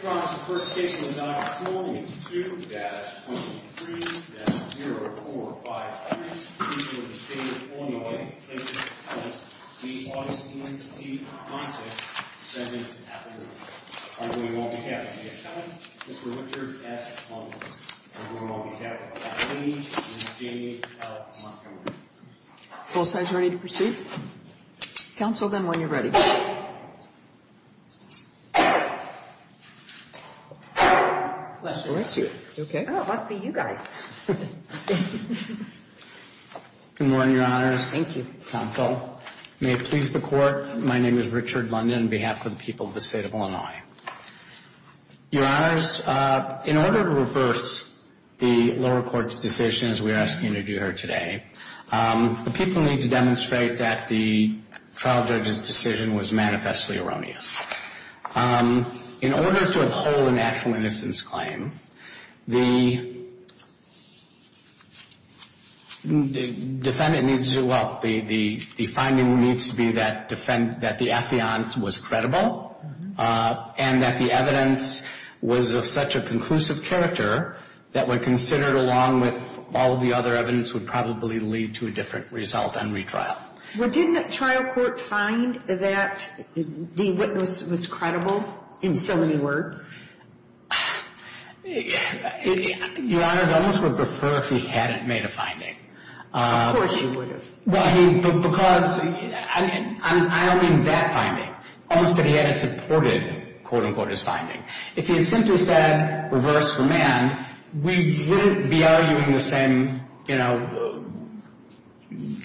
The first case of the night this morning is 2-23-0453 in the state of Illinois. The case was the August 19th, 1977. Our jury won't be happy. We have 7, Mr. Richard S. Montgomery. Our jury won't be happy. We have 8, Ms. Jamie L. Montgomery. Both sides ready to proceed? Counsel them when you're ready. Bless you. Bless you. Oh, it must be you guys. Good morning, Your Honors. Thank you. Counsel, may it please the Court, my name is Richard London on behalf of the people of the state of Illinois. Your Honors, in order to reverse the lower court's decision, as we are asking you to do here today, the people need to demonstrate that the trial judge's decision was manifestly erroneous. In order to uphold a natural innocence claim, the defendant needs to, well, the finding needs to be that the affiant was credible and that the evidence was of such a conclusive character that when considered along with all the other evidence would probably lead to a different result on retrial. Well, didn't the trial court find that the witness was credible in so many words? Your Honors, I almost would prefer if he hadn't made a finding. Of course you would have. Well, I mean, because I don't mean that finding. Almost that he hadn't supported, quote, unquote, his finding. If he had simply said reverse remand, we wouldn't be arguing the same, you know,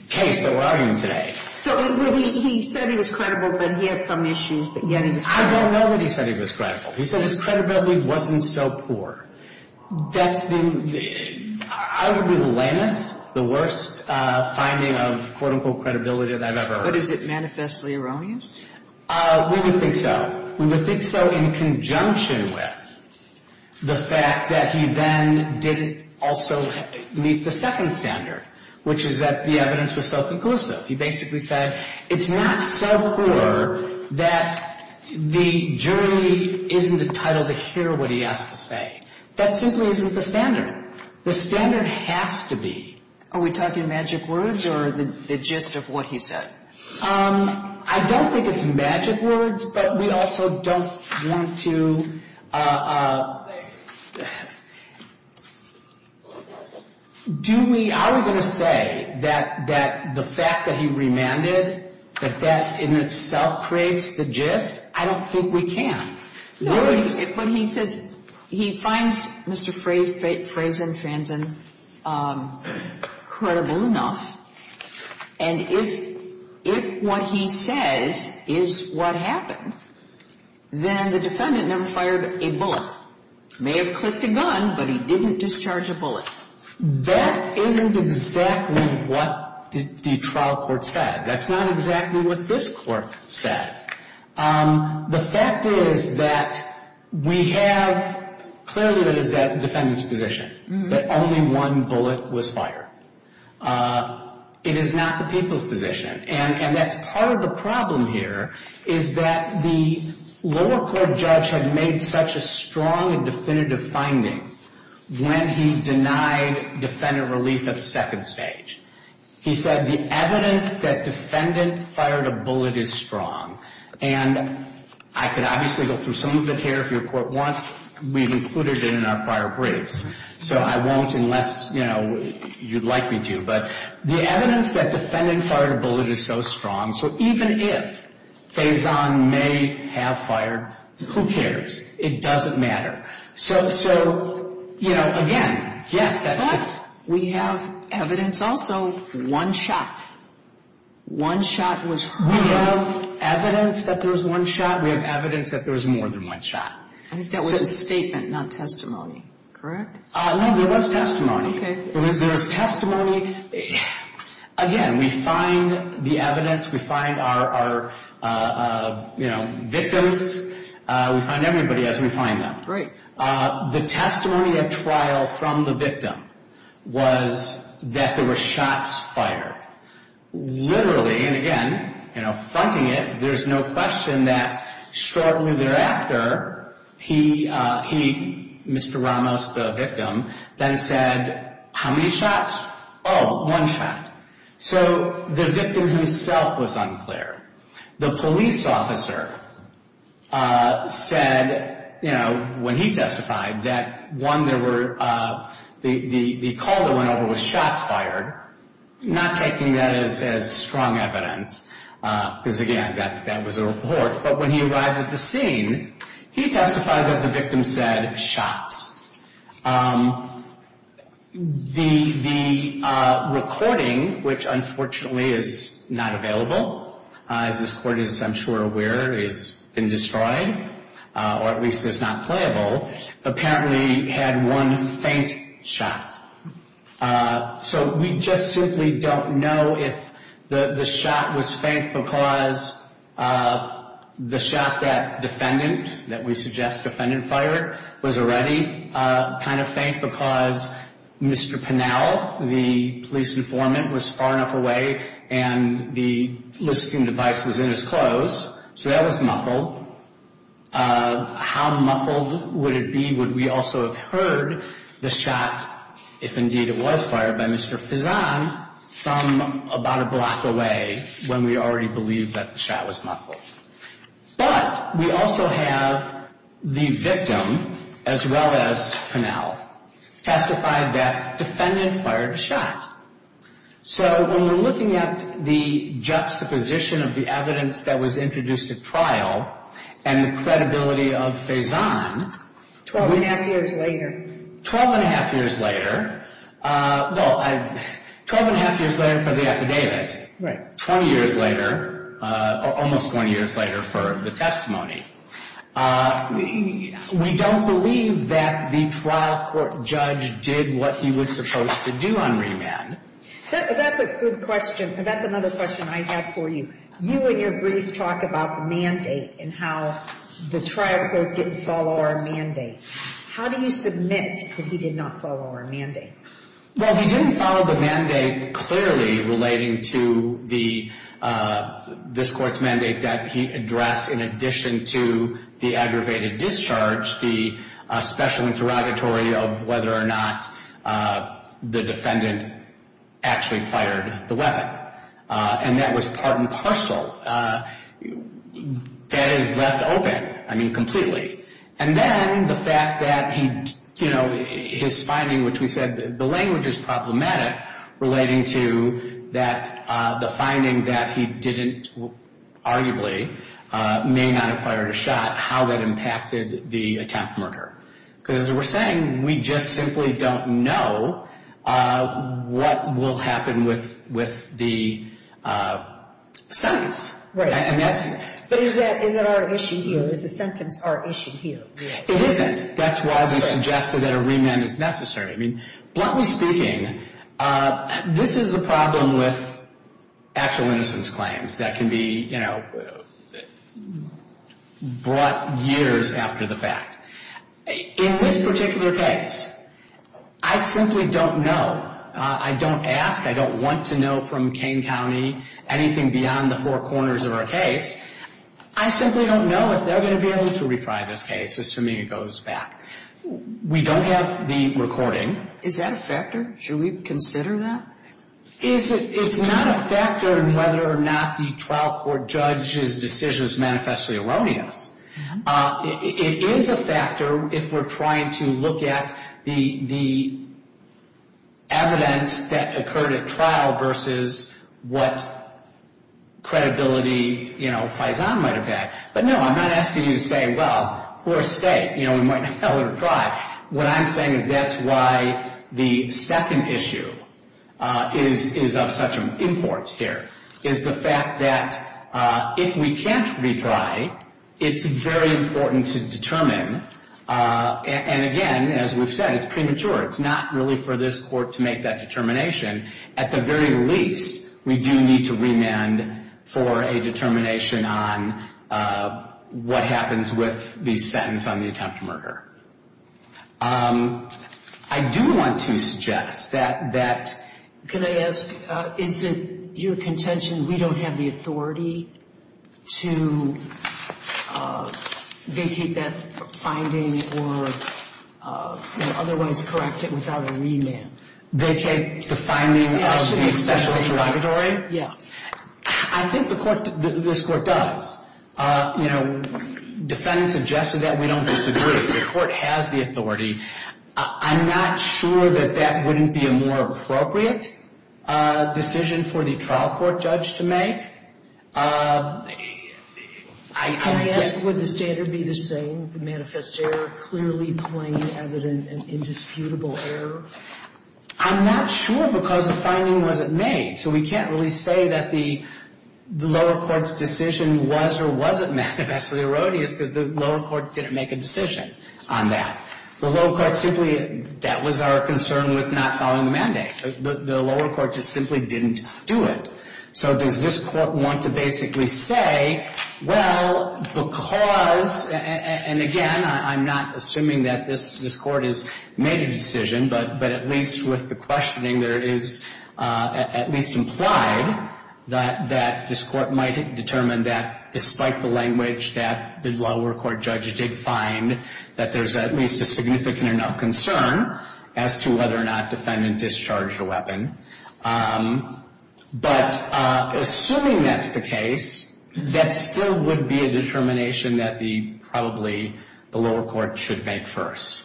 case that we're arguing today. So he said he was credible, but he had some issues, but yet he was credible. I don't know that he said he was credible. He said his credibility wasn't so poor. That's the, I would be the lamest, the worst finding of, quote, unquote, credibility that I've ever heard. But is it manifestly erroneous? We would think so. We would think so in conjunction with the fact that he then didn't also meet the second standard, which is that the evidence was so conclusive. He basically said it's not so poor that the jury isn't entitled to hear what he has to say. That simply isn't the standard. The standard has to be. Are we talking magic words or the gist of what he said? I don't think it's magic words, but we also don't want to. Do we, are we going to say that the fact that he remanded, that that in itself creates the gist? I don't think we can. If what he says, he finds Mr. Frazen credible enough, and if what he says is what happened, then the defendant never fired a bullet. May have clicked a gun, but he didn't discharge a bullet. That isn't exactly what the trial court said. That's not exactly what this court said. The fact is that we have, clearly it is the defendant's position that only one bullet was fired. It is not the people's position, and that's part of the problem here, is that the lower court judge had made such a strong and definitive finding when he denied defendant relief at the second stage. He said the evidence that defendant fired a bullet is strong, and I could obviously go through some of it here if your court wants. We've included it in our prior briefs, so I won't unless, you know, you'd like me to. But the evidence that defendant fired a bullet is so strong, so even if Frazen may have fired, who cares? It doesn't matter. So, you know, again, yes, that's the... So one shot, one shot was heard. We have evidence that there was one shot. We have evidence that there was more than one shot. I think that was a statement, not testimony, correct? No, there was testimony. There was testimony. Again, we find the evidence. We find our, you know, victims. We find everybody as we find them. Great. The testimony at trial from the victim was that there were shots fired. Literally, and again, you know, fronting it, there's no question that shortly thereafter he, Mr. Ramos, the victim, then said, how many shots? Oh, one shot. So the victim himself was unclear. The police officer said, you know, when he testified, that one, there were, the call that went over was shots fired, not taking that as strong evidence because, again, that was a report. But when he arrived at the scene, he testified that the victim said shots. The recording, which, unfortunately, is not available, as this Court is, I'm sure, aware, has been destroyed, or at least is not playable, apparently had one faint shot. So we just simply don't know if the shot was faint because the shot that defendant, that we suggest defendant fired, was already kind of faint because Mr. Pinnell, the police informant, was far enough away and the listening device was in his clothes, so that was muffled. How muffled would it be would we also have heard the shot, if indeed it was fired by Mr. Fezzan, from about a block away when we already believed that the shot was muffled. But we also have the victim, as well as Pinnell, testified that defendant fired a shot. So when we're looking at the juxtaposition of the evidence that was introduced at trial and the credibility of Fezzan, 12 1⁄2 years later, 12 1⁄2 years later, well, 12 1⁄2 years later for the affidavit, 20 years later, almost 20 years later for the testimony, we don't believe that the trial court judge did what he was supposed to do on remand. That's a good question. That's another question I have for you. You, in your brief, talk about the mandate and how the trial court didn't follow our mandate. How do you submit that he did not follow our mandate? Well, he didn't follow the mandate clearly relating to this court's mandate that he address, in addition to the aggravated discharge, the special interrogatory of whether or not the defendant actually fired the weapon. And that was part and parcel. That is left open, I mean, completely. And then the fact that his finding, which we said the language is problematic, relating to the finding that he didn't, arguably, may not have fired a shot, how that impacted the attempted murder. Because as we're saying, we just simply don't know what will happen with the sentence. But is that our issue here? Is the sentence our issue here? It isn't. That's why we suggested that a remand is necessary. I mean, bluntly speaking, this is a problem with actual innocence claims that can be brought years after the fact. In this particular case, I simply don't know. I don't ask. I don't want to know from Kane County anything beyond the four corners of our case. I simply don't know if they're going to be able to retry this case, assuming it goes back. We don't have the recording. Is that a factor? Should we consider that? It's not a factor in whether or not the trial court judge's decision is manifestly erroneous. It is a factor if we're trying to look at the evidence that occurred at trial versus what credibility Faison might have had. But no, I'm not asking you to say, well, we're a state. We might not be able to retry. What I'm saying is that's why the second issue is of such importance here, is the fact that if we can't retry, it's very important to determine. And, again, as we've said, it's premature. It's not really for this court to make that determination. At the very least, we do need to remand for a determination on what happens with the sentence on the attempt to murder. I do want to suggest that that — Can I ask, is it your contention we don't have the authority to vacate that finding or otherwise correct it without a remand? Vacate the finding of the special interrogatory? Yeah. I think the court — this court does. You know, defendant suggested that. We don't disagree. The court has the authority. I'm not sure that that wouldn't be a more appropriate decision for the trial court judge to make. Can I ask, would the standard be the same, the manifest error clearly plain, evident, and indisputable error? I'm not sure because the finding wasn't made. So we can't really say that the lower court's decision was or wasn't manifestly erroneous because the lower court didn't make a decision on that. The lower court simply — that was our concern with not following the mandate. The lower court just simply didn't do it. So does this court want to basically say, well, because — and, again, I'm not assuming that this court has made a decision, but at least with the questioning there is at least implied that this court might determine that despite the language that the lower court judge did find, that there's at least a significant enough concern as to whether or not defendant discharged a weapon. But assuming that's the case, that still would be a determination that the — probably the lower court should make first.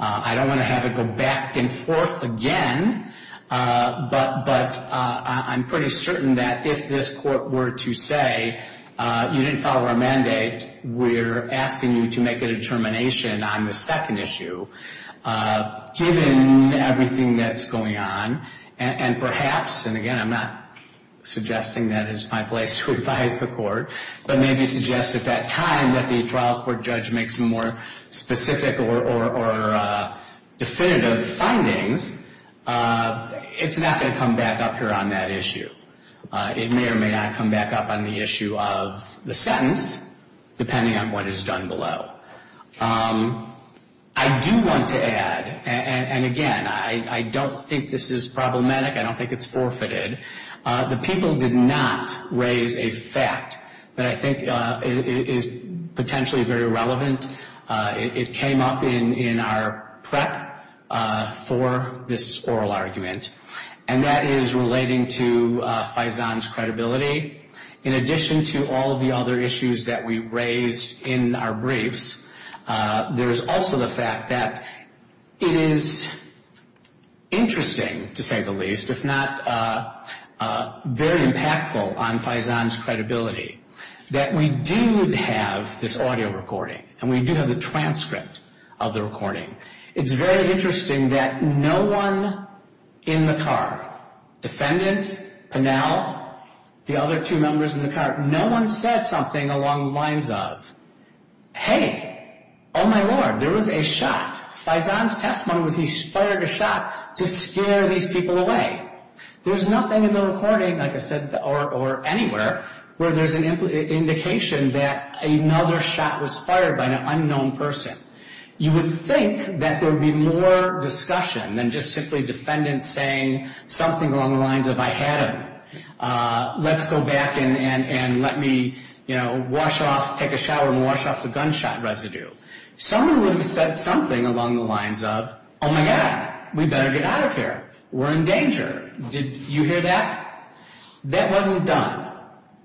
I don't want to have it go back and forth again, but I'm pretty certain that if this court were to say you didn't follow our mandate, we're asking you to make a determination on the second issue given everything that's going on. And perhaps — and, again, I'm not suggesting that is my place to advise the court, but maybe suggest at that time that the trial court judge make some more specific or definitive findings. It's not going to come back up here on that issue. It may or may not come back up on the issue of the sentence, depending on what is done below. I do want to add — and, again, I don't think this is problematic. I don't think it's forfeited. The people did not raise a fact that I think is potentially very relevant. It came up in our prep for this oral argument, and that is relating to Faison's credibility. In addition to all of the other issues that we raised in our briefs, there is also the fact that it is interesting, to say the least, if not very impactful on Faison's credibility, that we do have this audio recording, and we do have the transcript of the recording. It's very interesting that no one in the car — defendant, Pennell, the other two members in the car — no one said something along the lines of, hey, oh, my Lord, there was a shot. Faison's testimony was he fired a shot to scare these people away. There's nothing in the recording, like I said, or anywhere, where there's an indication that another shot was fired by an unknown person. You would think that there would be more discussion than just simply defendants saying something along the lines of, I had him. Let's go back and let me, you know, wash off — take a shower and wash off the gunshot residue. Someone would have said something along the lines of, oh, my God, we better get out of here. We're in danger. Did you hear that? That wasn't done.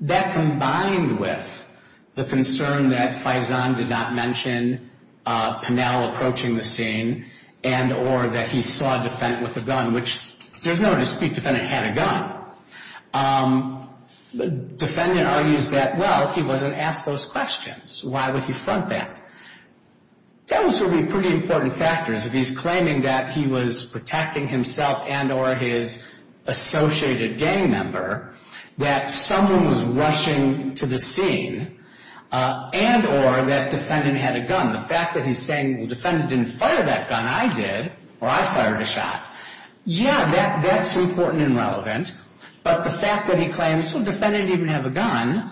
That combined with the concern that Faison did not mention Pennell approaching the scene and or that he saw a defendant with a gun, which there's no dispute defendant had a gun. The defendant argues that, well, he wasn't asked those questions. Why would he front that? Those would be pretty important factors. If he's claiming that he was protecting himself and or his associated gang member, that someone was rushing to the scene and or that defendant had a gun. The fact that he's saying the defendant didn't fire that gun, I did, or I fired a shot. Yeah, that's important and relevant. But the fact that he claims the defendant didn't even have a gun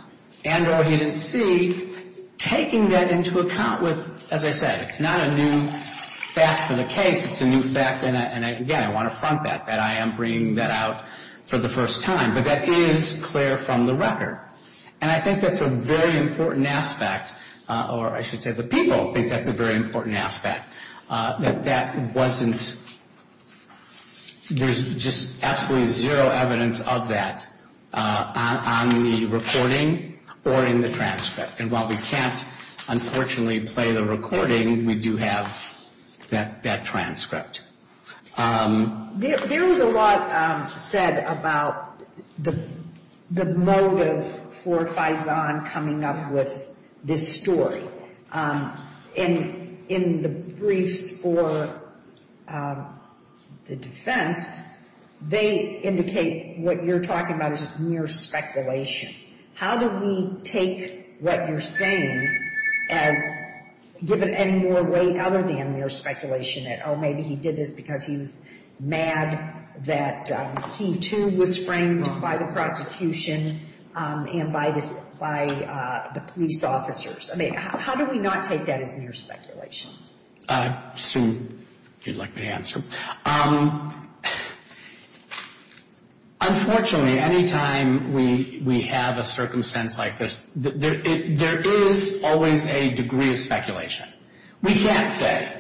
and or he didn't see, taking that into account with, as I said, it's not a new fact of the case. It's a new fact. And again, I want to front that, that I am bringing that out for the first time. But that is clear from the record. And I think that's a very important aspect, or I should say the people think that's a very important aspect, that that wasn't, there's just absolutely zero evidence of that on the recording or in the transcript. And while we can't, unfortunately, play the recording, we do have that transcript. There was a lot said about the motive for Faison coming up with this story. In the briefs for the defense, they indicate what you're talking about is mere speculation. How do we take what you're saying as given any more weight other than mere speculation that, oh, maybe he did this because he was mad that he, too, was framed by the prosecution and by the police officers? I mean, how do we not take that as mere speculation? Sue, if you'd like me to answer. Unfortunately, any time we have a circumstance like this, there is always a degree of speculation. We can't say.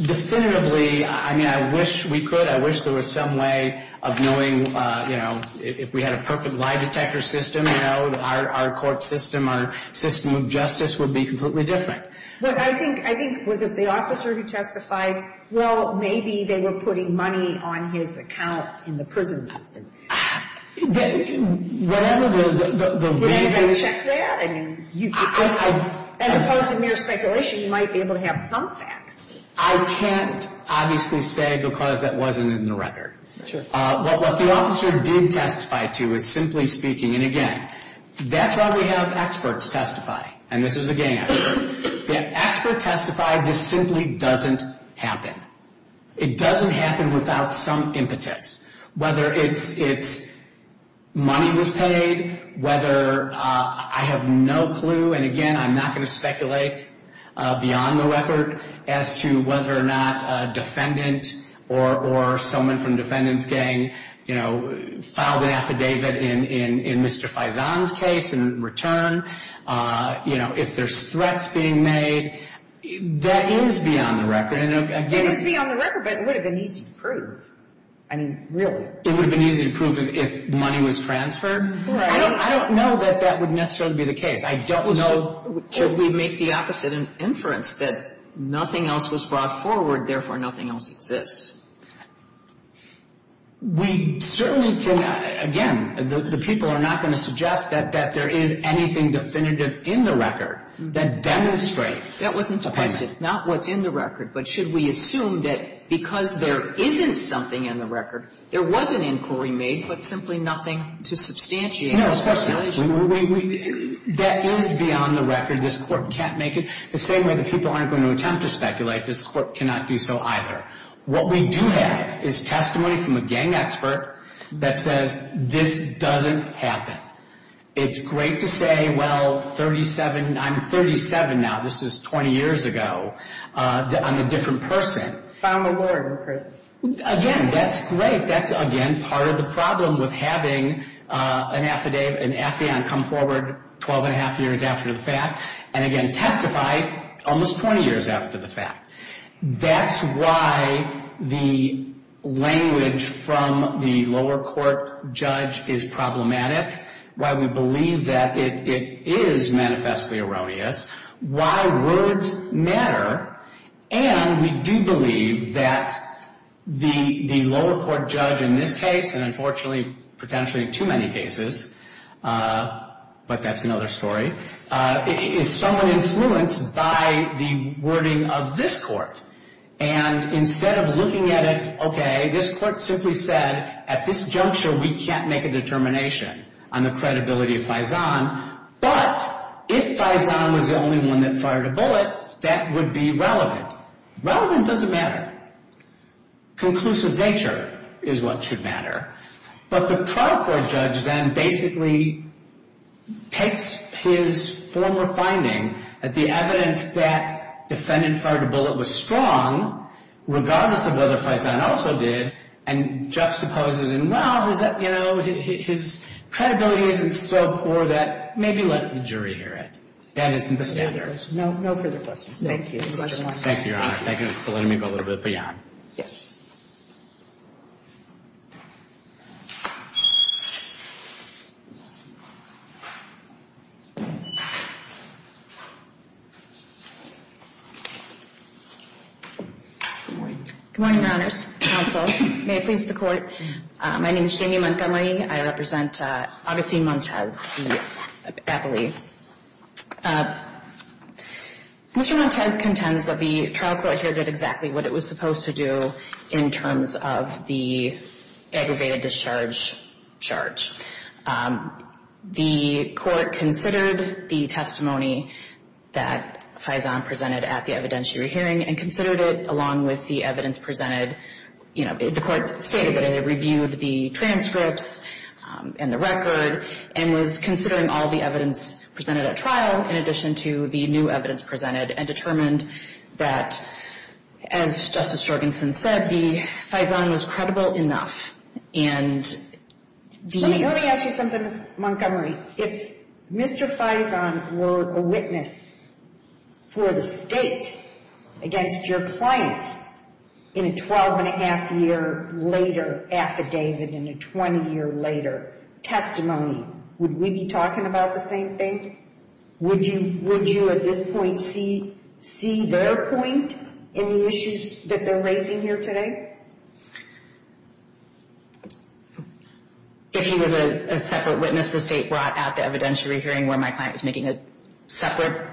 Definitively, I mean, I wish we could. I wish there was some way of knowing, you know, if we had a perfect lie detector system, you know, our court system, our system of justice would be completely different. But I think, was it the officer who testified? Well, maybe they were putting money on his account in the prison system. Whatever the reason is. Did anybody check that? I mean, as opposed to mere speculation, you might be able to have some facts. I can't obviously say because that wasn't in the record. What the officer did testify to is, simply speaking, and again, that's why we have experts testify, and this is a gang expert, the expert testified this simply doesn't happen. It doesn't happen without some impetus, whether it's money was paid, whether I have no clue, and again, I'm not going to speculate beyond the record as to whether or not a defendant or someone from the defendant's gang, you know, filed an affidavit in Mr. Faison's case in return. You know, if there's threats being made, that is beyond the record. It is beyond the record, but it would have been easy to prove. I mean, really. It would have been easy to prove if money was transferred. I don't know that that would necessarily be the case. I don't know. Should we make the opposite inference, that nothing else was brought forward, therefore nothing else exists? We certainly cannot, again, the people are not going to suggest that there is anything definitive in the record that demonstrates a payment. That wasn't the question. Not what's in the record, but should we assume that because there isn't something in the record, there was an inquiry made, but simply nothing to substantiate that allegation? That is beyond the record. This Court can't make it. The same way the people aren't going to attempt to speculate, this Court cannot do so either. What we do have is testimony from a gang expert that says this doesn't happen. It's great to say, well, 37, I'm 37 now. This is 20 years ago. I'm a different person. Found the lawyer in prison. Again, that's great. That's, again, part of the problem with having an affidavit, an affidavit come forward 12 1⁄2 years after the fact, and again testify almost 20 years after the fact. That's why the language from the lower court judge is problematic, why we believe that it is manifestly erroneous, why words matter, and we do believe that the lower court judge in this case, and unfortunately potentially in too many cases, but that's another story, is somewhat influenced by the wording of this Court. And instead of looking at it, okay, this Court simply said at this juncture we can't make a determination on the credibility of Faison, but if Faison was the only one that fired a bullet, that would be relevant. Relevant doesn't matter. Conclusive nature is what should matter. But the trial court judge then basically takes his former finding, the evidence that defendant fired a bullet was strong, regardless of whether Faison also did, and juxtaposes and, well, is that, you know, his credibility isn't so poor that maybe let the jury hear it. That isn't the standard. No further questions. Thank you. Thank you, Your Honor. Thank you for letting me go a little bit beyond. Good morning. Good morning, Your Honors. Counsel, may it please the Court. My name is Jamie Montgomery. I represent Augustine Montes, the appellee. Mr. Montes contends that the trial court here did exactly what it was supposed to do in terms of the aggravated discharge charge. The Court considered the testimony that Faison presented at the evidentiary hearing and considered it along with the evidence presented. You know, the Court stated that it reviewed the transcripts and the record and was considering all the evidence presented at trial in addition to the new evidence presented and determined that, as Justice Jorgenson said, the Faison was credible enough. And the — Let me ask you something, Ms. Montgomery. If Mr. Faison were a witness for the State against your client in a 12-and-a-half-year later affidavit and a 20-year later testimony, would we be talking about the same thing? Would you at this point see their point in the issues that they're raising here today? If he was a separate witness, the State brought out the evidentiary hearing where my client was making a separate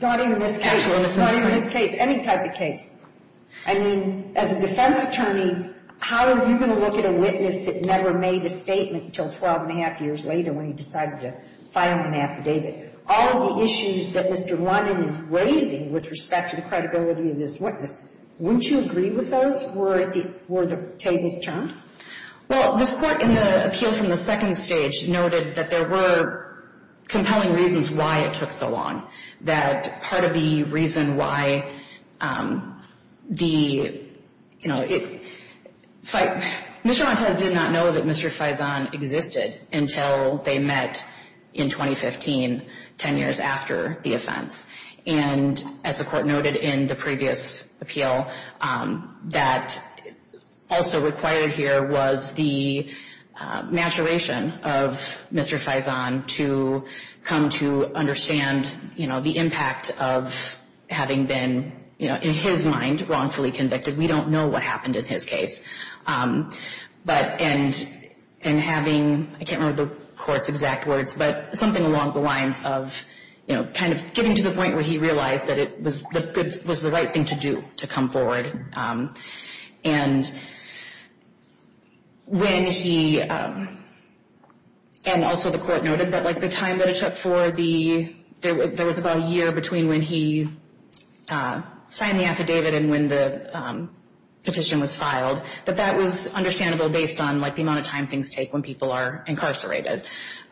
actual misdemeanor? Not in this case. Not in this case. Any type of case. I mean, as a defense attorney, how are you going to look at a witness that never made a statement until 12-and-a-half years later when he decided to file an affidavit? All of the issues that Mr. London is raising with respect to the credibility of his witness, wouldn't you agree with those were the tables turned? Well, this Court in the appeal from the second stage noted that there were compelling reasons why it took so long. That part of the reason why the, you know, Mr. Montez did not know that Mr. Faison existed until they met in 2015, 10 years after the offense. And as the Court noted in the previous appeal, that also required here was the maturation of Mr. Faison to come to understand, you know, the impact of having been, you know, in his mind, wrongfully convicted. We don't know what happened in his case. But in having, I can't remember the Court's exact words, but something along the lines of, you know, kind of getting to the point where he realized that it was the right thing to do to come forward. And when he, and also the Court noted that, like, the time that it took for the, there was about a year between when he signed the affidavit and when the petition was filed. But that was understandable based on, like, the amount of time things take when people are incarcerated.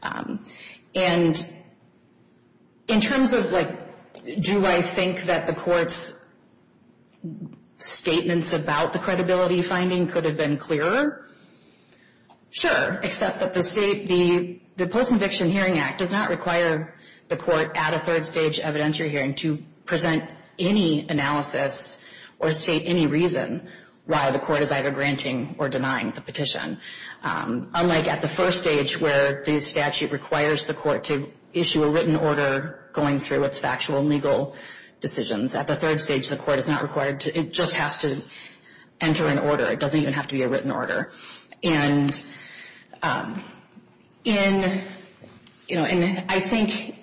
And in terms of, like, do I think that the Court's statements about the credibility finding could have been clearer? Sure, except that the Post-Conviction Hearing Act does not require the Court at a third-stage evidentiary hearing to present any analysis or state any reason why the Court is either granting or denying the petition. Unlike at the first stage where the statute requires the Court to issue a written order going through its factual and legal decisions. At the third stage, the Court is not required to, it just has to enter an order. It doesn't even have to be a written order. And in, you know, I think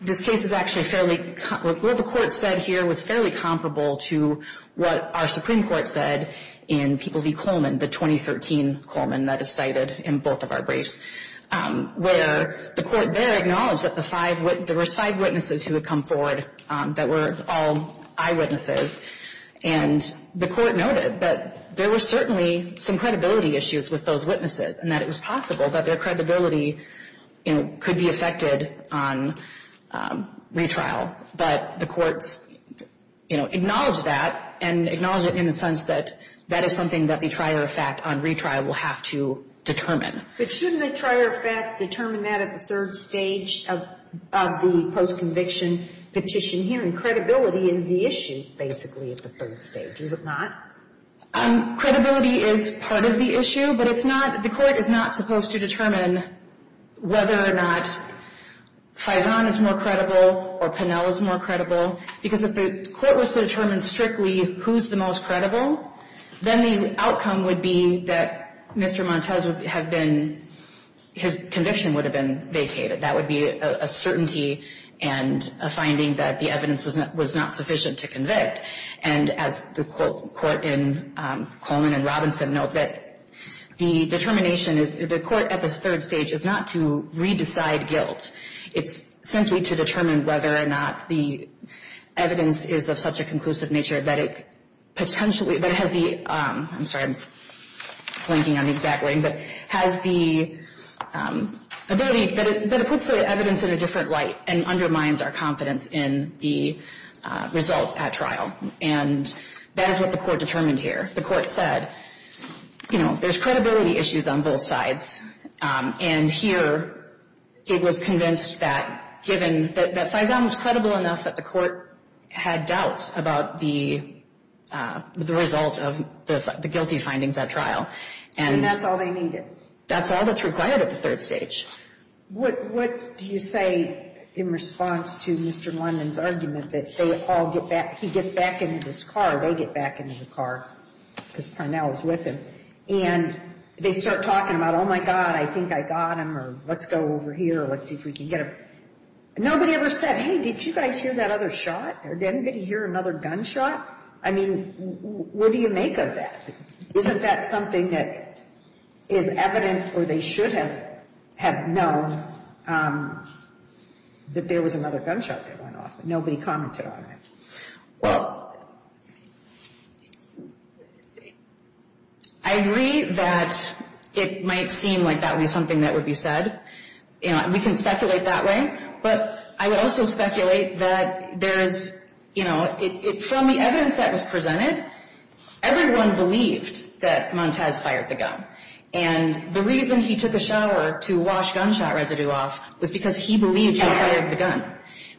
this case is actually fairly, what the Court said here was fairly comparable to what our Supreme Court said in People v. Coleman, the 2013 Coleman that is cited in both of our briefs, where the Court there acknowledged that the five, there was five witnesses who had come forward that were all eyewitnesses. And the Court noted that there were certainly some credibility issues with those witnesses and that it was possible that their credibility, you know, could be affected on retrial. But the courts, you know, acknowledge that and acknowledge it in the sense that that is something that the trier of fact on retrial will have to determine. But shouldn't the trier of fact determine that at the third stage of the post-conviction petition hearing? Credibility is the issue, basically, at the third stage, is it not? Credibility is part of the issue, but it's not, the Court is not supposed to determine whether or not Faison is more credible or Pinnell is more credible, because if the Court was to determine strictly who's the most credible, then the outcome would be that Mr. Montes would have been, his conviction would have been vacated. That would be a certainty and a finding that the evidence was not sufficient to convict. And as the Court in Coleman and Robinson note, that the determination is, the Court at the third stage is not to re-decide guilt. It's simply to determine whether or not the evidence is of such a conclusive nature that it potentially, that it has the, I'm sorry, I'm blanking on the exact wording, but has the ability, that it puts the evidence in a different light and undermines our confidence in the result at trial. And that is what the Court determined here. The Court said, you know, there's credibility issues on both sides. And here, it was convinced that given, that Faison was credible enough that the Court had doubts about the result of the guilty findings at trial. And that's all they needed. That's all that's required at the third stage. What do you say in response to Mr. London's argument that they all get back, he gets back into his car, they get back into the car? Because Parnell is with him. And they start talking about, oh, my God, I think I got him, or let's go over here, let's see if we can get him. Nobody ever said, hey, did you guys hear that other shot? Or did anybody hear another gunshot? I mean, what do you make of that? Isn't that something that is evident or they should have known that there was another gunshot that went off? Nobody commented on it. Well, I agree that it might seem like that would be something that would be said. We can speculate that way. But I would also speculate that there is, you know, from the evidence that was presented, everyone believed that Montez fired the gun. And the reason he took a shower to wash gunshot residue off was because he believed he fired the gun.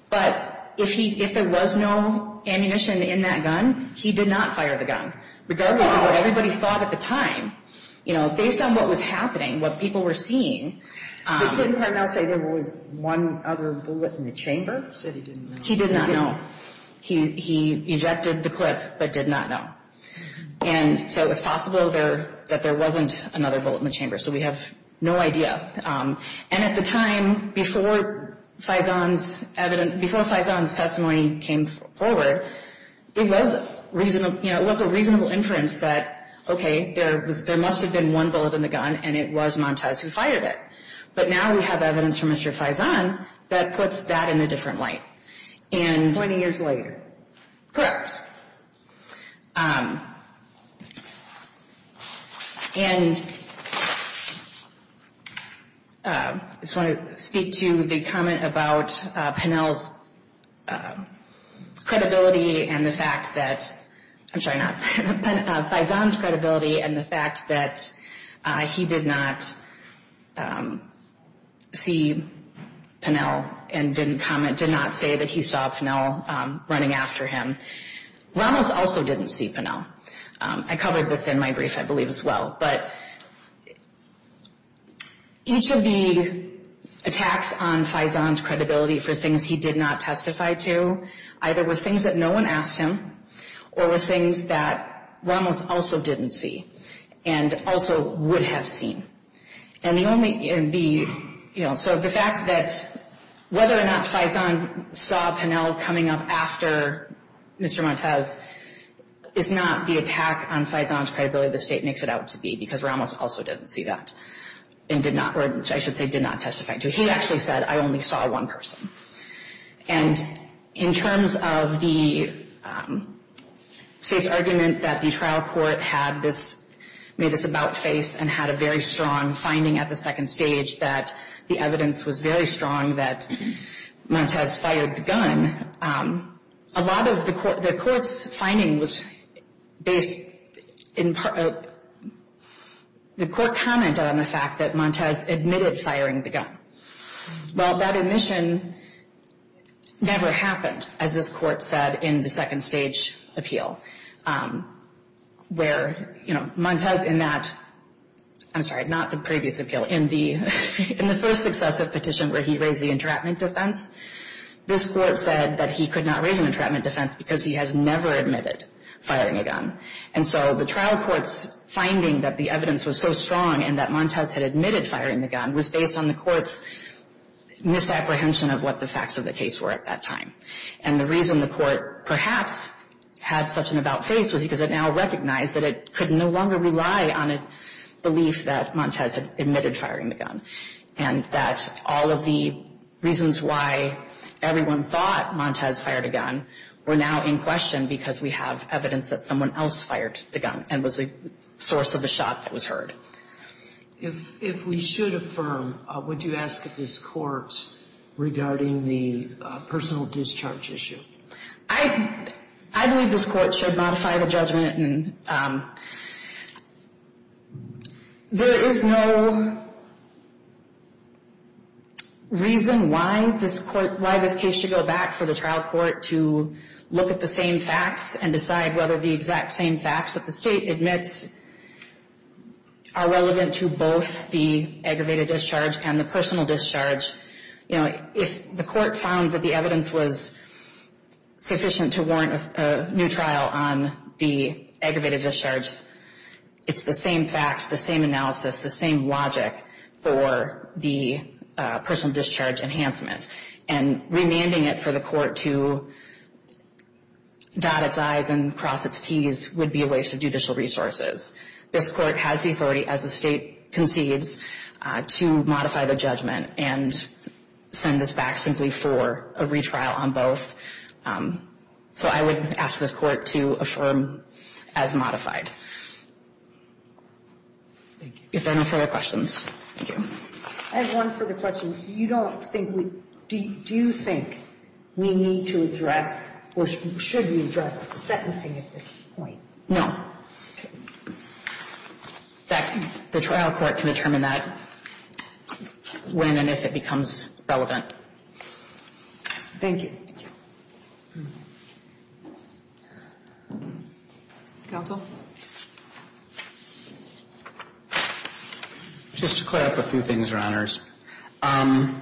But if there was no ammunition in that gun, he did not fire the gun. Regardless of what everybody thought at the time, you know, based on what was happening, what people were seeing. Didn't Parnell say there was one other bullet in the chamber? He said he didn't know. He did not know. He ejected the clip but did not know. And so it was possible that there wasn't another bullet in the chamber. So we have no idea. And at the time, before Faison's testimony came forward, it was a reasonable inference that, okay, there must have been one bullet in the gun and it was Montez who fired it. But now we have evidence from Mr. Faison that puts that in a different light. 20 years later. Correct. And I just want to speak to the comment about Parnell's credibility and the fact that, I'm sorry, not, Faison's credibility and the fact that he did not see Parnell and didn't comment, did not say that he saw Parnell running after him. Ramos also didn't see Parnell. I covered this in my brief, I believe, as well. But each of the attacks on Faison's credibility for things he did not testify to, either were things that no one asked him or were things that Ramos also didn't see and also would have seen. And the only, the, you know, so the fact that whether or not Faison saw Parnell coming up after Mr. Montez is not the attack on Faison's credibility the State makes it out to be because Ramos also didn't see that and did not, or I should say did not testify to. He actually said, I only saw one person. And in terms of the State's argument that the trial court had this, made this about-face and had a very strong finding at the second stage that the evidence was very strong that Montez fired the gun, a lot of the court's finding was based in the court comment on the fact that Montez admitted firing the gun. Well, that admission never happened, as this Court said in the second stage appeal, where, you know, Montez in that, I'm sorry, not the previous appeal, in the first successive petition where he raised the entrapment defense, this Court said that he could not raise an entrapment defense because he has never admitted firing a gun. And so the trial court's finding that the evidence was so strong and that Montez had admitted firing the gun was based on the court's misapprehension of what the facts of the case were at that time. And the reason the court perhaps had such an about-face was because it now recognized that it could no longer rely on a belief that Montez had admitted firing the gun and that all of the reasons why everyone thought Montez fired a gun were now in question because we have evidence that someone else fired the gun and was a source of the shock that was heard. If we should affirm, would you ask this Court regarding the personal discharge issue? I believe this Court should modify the judgment and there is no reason why this case should go back for the trial court to look at the same facts and decide whether the exact same facts that the state admits are relevant to both the aggravated discharge and the personal discharge. If the court found that the evidence was sufficient to warrant a new trial on the aggravated discharge, it's the same facts, the same analysis, the same logic for the personal discharge enhancement. And remanding it for the court to dot its I's and cross its T's would be a waste of judicial resources. This Court has the authority as the state concedes to modify the judgment and send this back simply for a retrial on both. So I would ask this Court to affirm as modified. Thank you. If there are no further questions. Thank you. I have one further question. Do you think we need to address or should we address sentencing at this point? No. Okay. The trial court can determine that when and if it becomes relevant. Thank you. Counsel? Just to clear up a few things, Your Honors. Parnell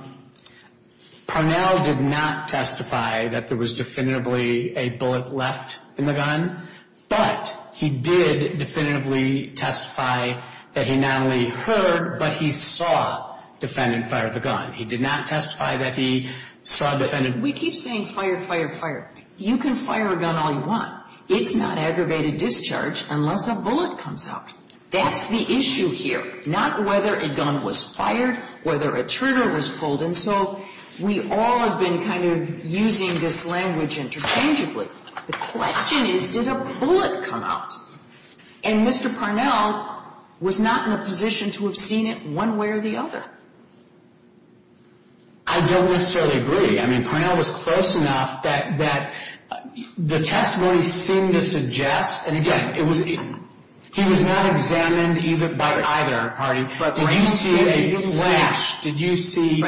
did not testify that there was definitively a bullet left in the gun, but he did definitively testify that he not only heard, but he saw defendant fire the gun. He did not testify that he saw defendant. We keep saying fired, fired, fired. You can fire a gun all you want. It's not aggravated discharge unless a bullet comes out. That's the issue here. Not whether a gun was fired, whether a trigger was pulled. And so we all have been kind of using this language interchangeably. The question is, did a bullet come out? And Mr. Parnell was not in a position to have seen it one way or the other. I don't necessarily agree. I mean, Parnell was close enough that the testimony seemed to suggest. He was not examined by either party. Did you see a flash? Did you see?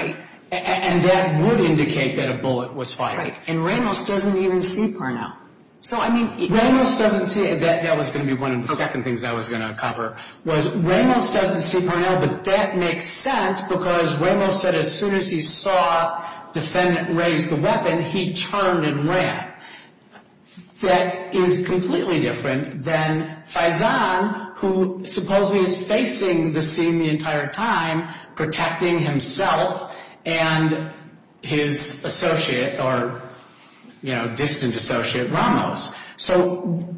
And that would indicate that a bullet was fired. And Ramos doesn't even see Parnell. Ramos doesn't see it. That was going to be one of the second things I was going to cover, was Ramos doesn't see Parnell, but that makes sense because Ramos said as soon as he saw defendant raise the weapon, he turned and ran. That is completely different than Faizan, who supposedly is facing the scene the entire time, protecting himself and his associate or distant associate, Ramos. So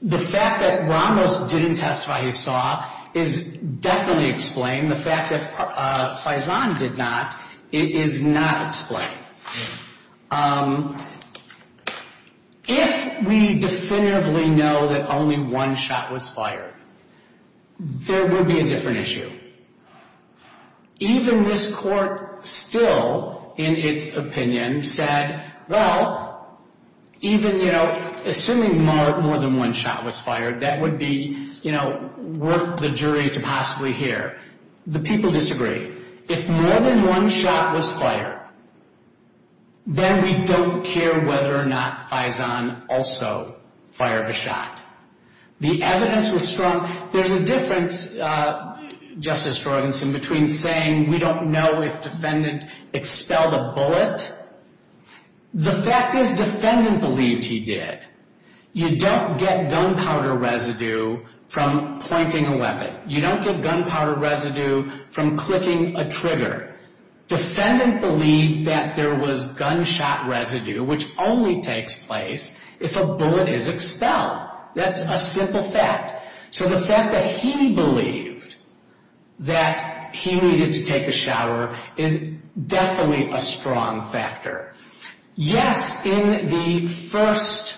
the fact that Ramos didn't testify he saw is definitely explained. The fact that Faizan did not is not explained. If we definitively know that only one shot was fired, there will be a different issue. Even this court still, in its opinion, said, well, even, you know, assuming more than one shot was fired, that would be, you know, worth the jury to possibly hear. The people disagree. If more than one shot was fired, then we don't care whether or not Faizan also fired a shot. The evidence was strong. There's a difference, Justice Jorgenson, between saying we don't know if defendant expelled a bullet. The fact is defendant believed he did. You don't get gunpowder residue from pointing a weapon. You don't get gunpowder residue from clicking a trigger. Defendant believed that there was gunshot residue, which only takes place if a bullet is expelled. That's a simple fact. So the fact that he believed that he needed to take a shower is definitely a strong factor. Yes, in the first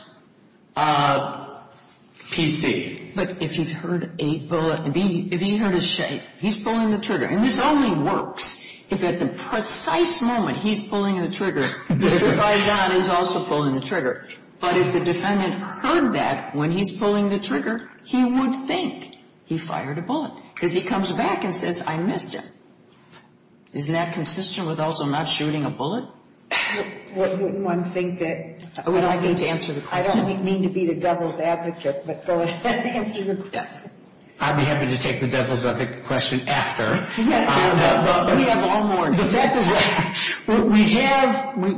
PC. But if he heard a bullet, if he heard a shake, he's pulling the trigger. And this only works if at the precise moment he's pulling the trigger, Mr. Faizan is also pulling the trigger. But if the defendant heard that when he's pulling the trigger, he would think he fired a bullet because he comes back and says, I missed it. Isn't that consistent with also not shooting a bullet? Wouldn't one think that? I don't mean to answer the question. I don't mean to be the devil's advocate, but go ahead and answer your question. I'd be happy to take the devil's advocate question after. We have all more.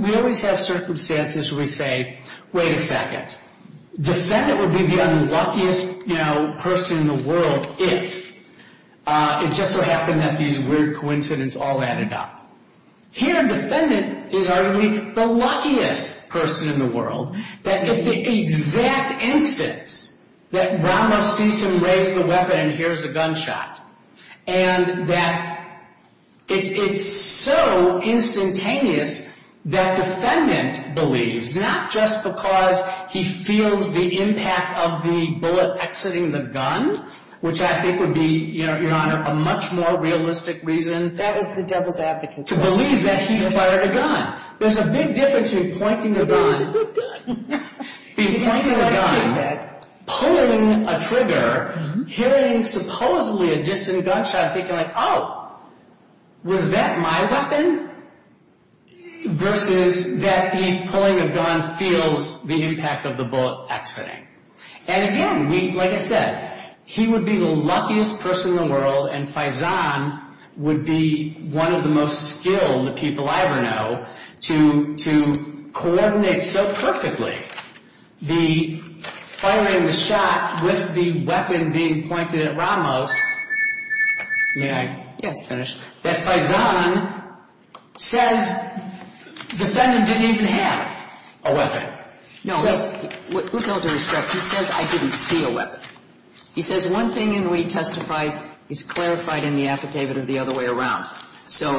We always have circumstances where we say, wait a second. Defendant would be the unluckiest person in the world if it just so happened that these weird coincidences all added up. Here, defendant is arguably the luckiest person in the world. If the exact instance that Ramos sees him raise the weapon and hears a gunshot, and that it's so instantaneous that defendant believes, not just because he feels the impact of the bullet exiting the gun, which I think would be, Your Honor, a much more realistic reason. That was the devil's advocate question. To believe that he fired a gun. There's a big difference between pointing a gun, pulling a trigger, hearing supposedly a distant gunshot, thinking like, oh, was that my weapon? Versus that he's pulling a gun, feels the impact of the bullet exiting. And again, like I said, he would be the luckiest person in the world and Faizan would be one of the most skilled people I ever know to coordinate so perfectly the firing the shot with the weapon being pointed at Ramos. May I? Yes, Senator. That Faizan says defendant didn't even have a weapon. No. With all due respect, he says I didn't see a weapon. He says one thing in what he testifies is clarified in the affidavit or the other way around. So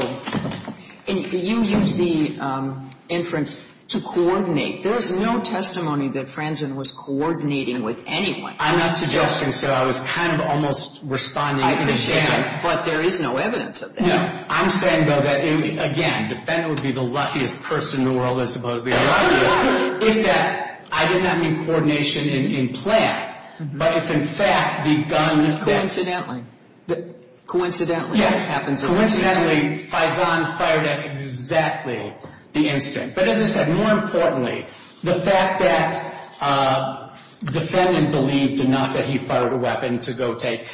you use the inference to coordinate. There is no testimony that Faizan was coordinating with anyone. I'm not suggesting so. I was kind of almost responding in advance. I appreciate that. But there is no evidence of that. No. I'm saying, though, that, again, defendant would be the luckiest person in the world, I suppose. If that, I did not mean coordination in plan, but if, in fact, the gun. Coincidentally. Coincidentally. Yes. Coincidentally, Faizan fired at exactly the instant. But as I said, more importantly, the fact that defendant believed enough that he fired a weapon to go take,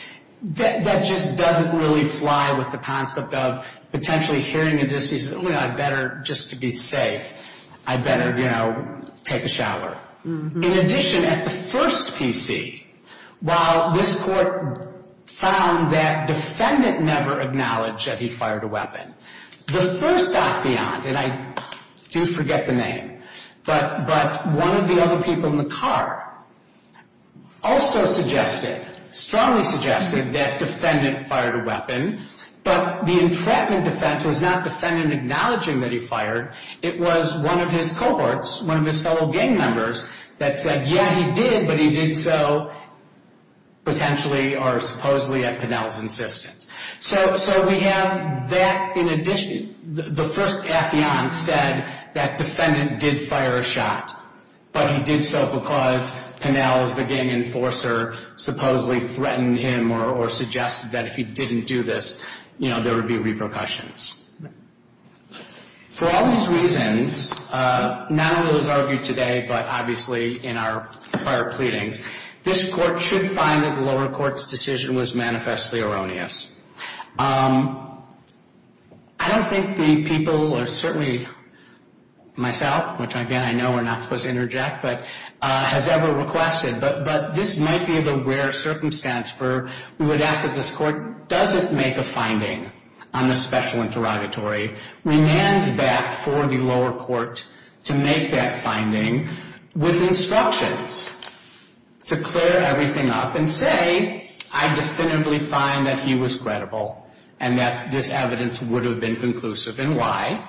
that just doesn't really fly with the concept of potentially hearing a dis-use. I better just to be safe. I better, you know, take a shower. In addition, at the first PC, while this court found that defendant never acknowledged that he fired a weapon. The first affiant, and I do forget the name, but one of the other people in the car also suggested, strongly suggested, that defendant fired a weapon. But the entrapment defense was not defendant acknowledging that he fired. It was one of his cohorts, one of his fellow gang members, that said, yeah, he did, but he did so potentially or supposedly at Pennell's insistence. So we have that in addition, the first affiant said that defendant did fire a shot, but he did so because Pennell's, the gang enforcer, supposedly threatened him or suggested that if he didn't do this, you know, there would be repercussions. For all these reasons, not only was argued today, but obviously in our prior pleadings, this court should find that the lower court's decision was manifestly erroneous. I don't think the people, or certainly myself, which again, I know we're not supposed to interject, but has ever requested, but this might be the rare circumstance for, we would ask that this court doesn't make a finding on the special interrogatory. We hand back for the lower court to make that finding with instructions to clear everything up and say, I definitively find that he was credible and that this evidence would have been conclusive and why.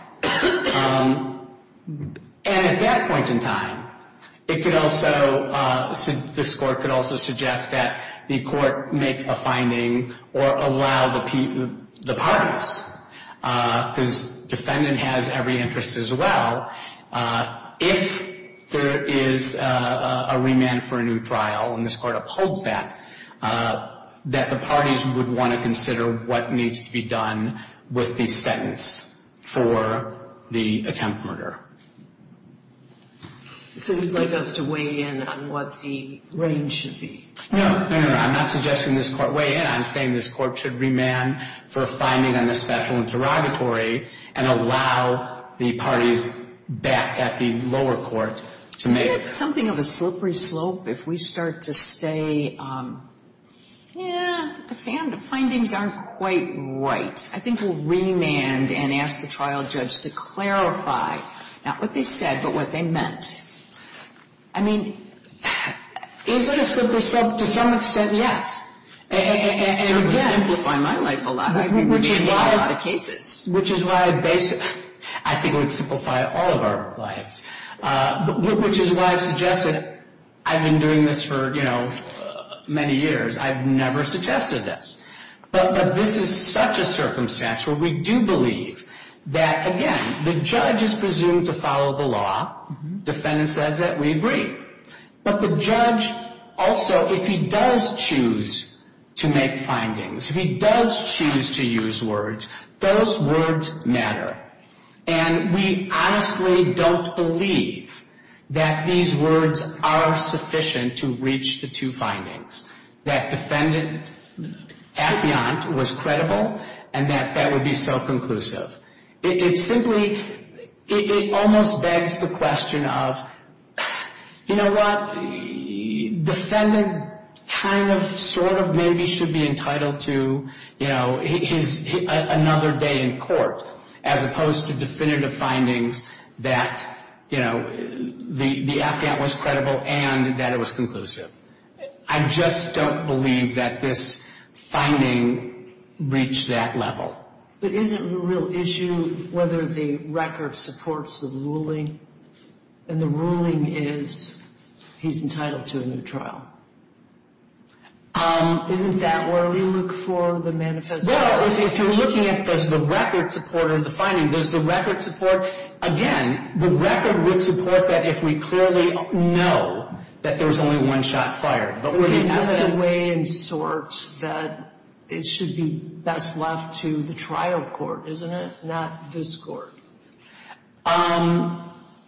And at that point in time, it could also, this court could also suggest that the court make a finding or allow the parties, because defendant has every interest as well. If there is a remand for a new trial, and this court upholds that, that the parties would want to consider what needs to be done with the sentence for the attempt murder. So you'd like us to weigh in on what the range should be? No, no, no, I'm not suggesting this court weigh in. I'm saying this court should remand for a finding on the special interrogatory and allow the parties back at the lower court to make. Isn't that something of a slippery slope if we start to say, yeah, the findings aren't quite right? I think we'll remand and ask the trial judge to clarify not what they said, but what they meant. I mean, is it a slippery slope? To some extent, yes. And again. It would simplify my life a lot. Which is why I think it would simplify all of our lives. Which is why I've suggested I've been doing this for many years. I've never suggested this. But this is such a circumstance where we do believe that, again, the judge is presumed to follow the law. Defendant says that. We agree. But the judge also, if he does choose to make findings, if he does choose to use words, those words matter. And we honestly don't believe that these words are sufficient to reach the two findings. That defendant, affiant, was credible and that that would be so conclusive. It simply, it almost begs the question of, you know what, defendant kind of, sort of, maybe should be entitled to, you know, another day in court as opposed to definitive findings that, you know, the affiant was credible and that it was conclusive. I just don't believe that this finding reached that level. But isn't the real issue whether the record supports the ruling and the ruling is he's entitled to a new trial? Isn't that where we look for the manifesto? Well, if you're looking at does the record support or the finding, does the record support, again, the record would support that if we clearly know that there was only one shot fired. But where the evidence. But that's a way in sorts that it should be best left to the trial court, isn't it? Not this court.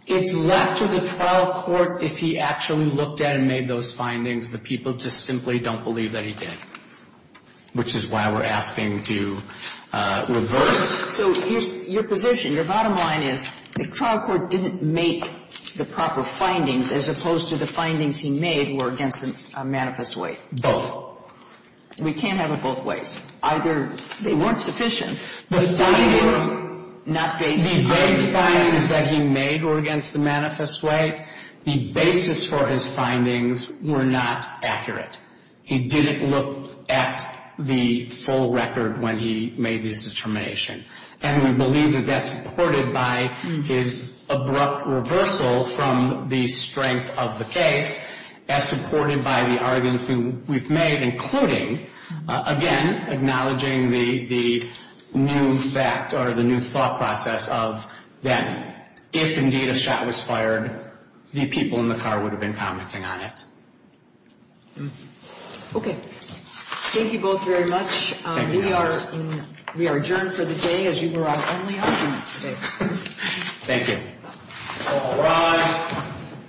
It's left to the trial court if he actually looked at and made those findings. The people just simply don't believe that he did, which is why we're asking to reverse. So your position, your bottom line is the trial court didn't make the proper findings as opposed to the findings he made were against the manifest way. Both. We can't have it both ways. Either they weren't sufficient. The findings. Not based. The great findings that he made were against the manifest way. The basis for his findings were not accurate. He didn't look at the full record when he made this determination. And we believe that that's supported by his abrupt reversal from the strength of the case, as supported by the arguments we've made, including, again, acknowledging the new fact or the new thought process of that if indeed a shot was fired, the people in the car would have been commenting on it. Okay. Thank you both very much. We are adjourned for the day as you were our only argument today. Thank you. All rise.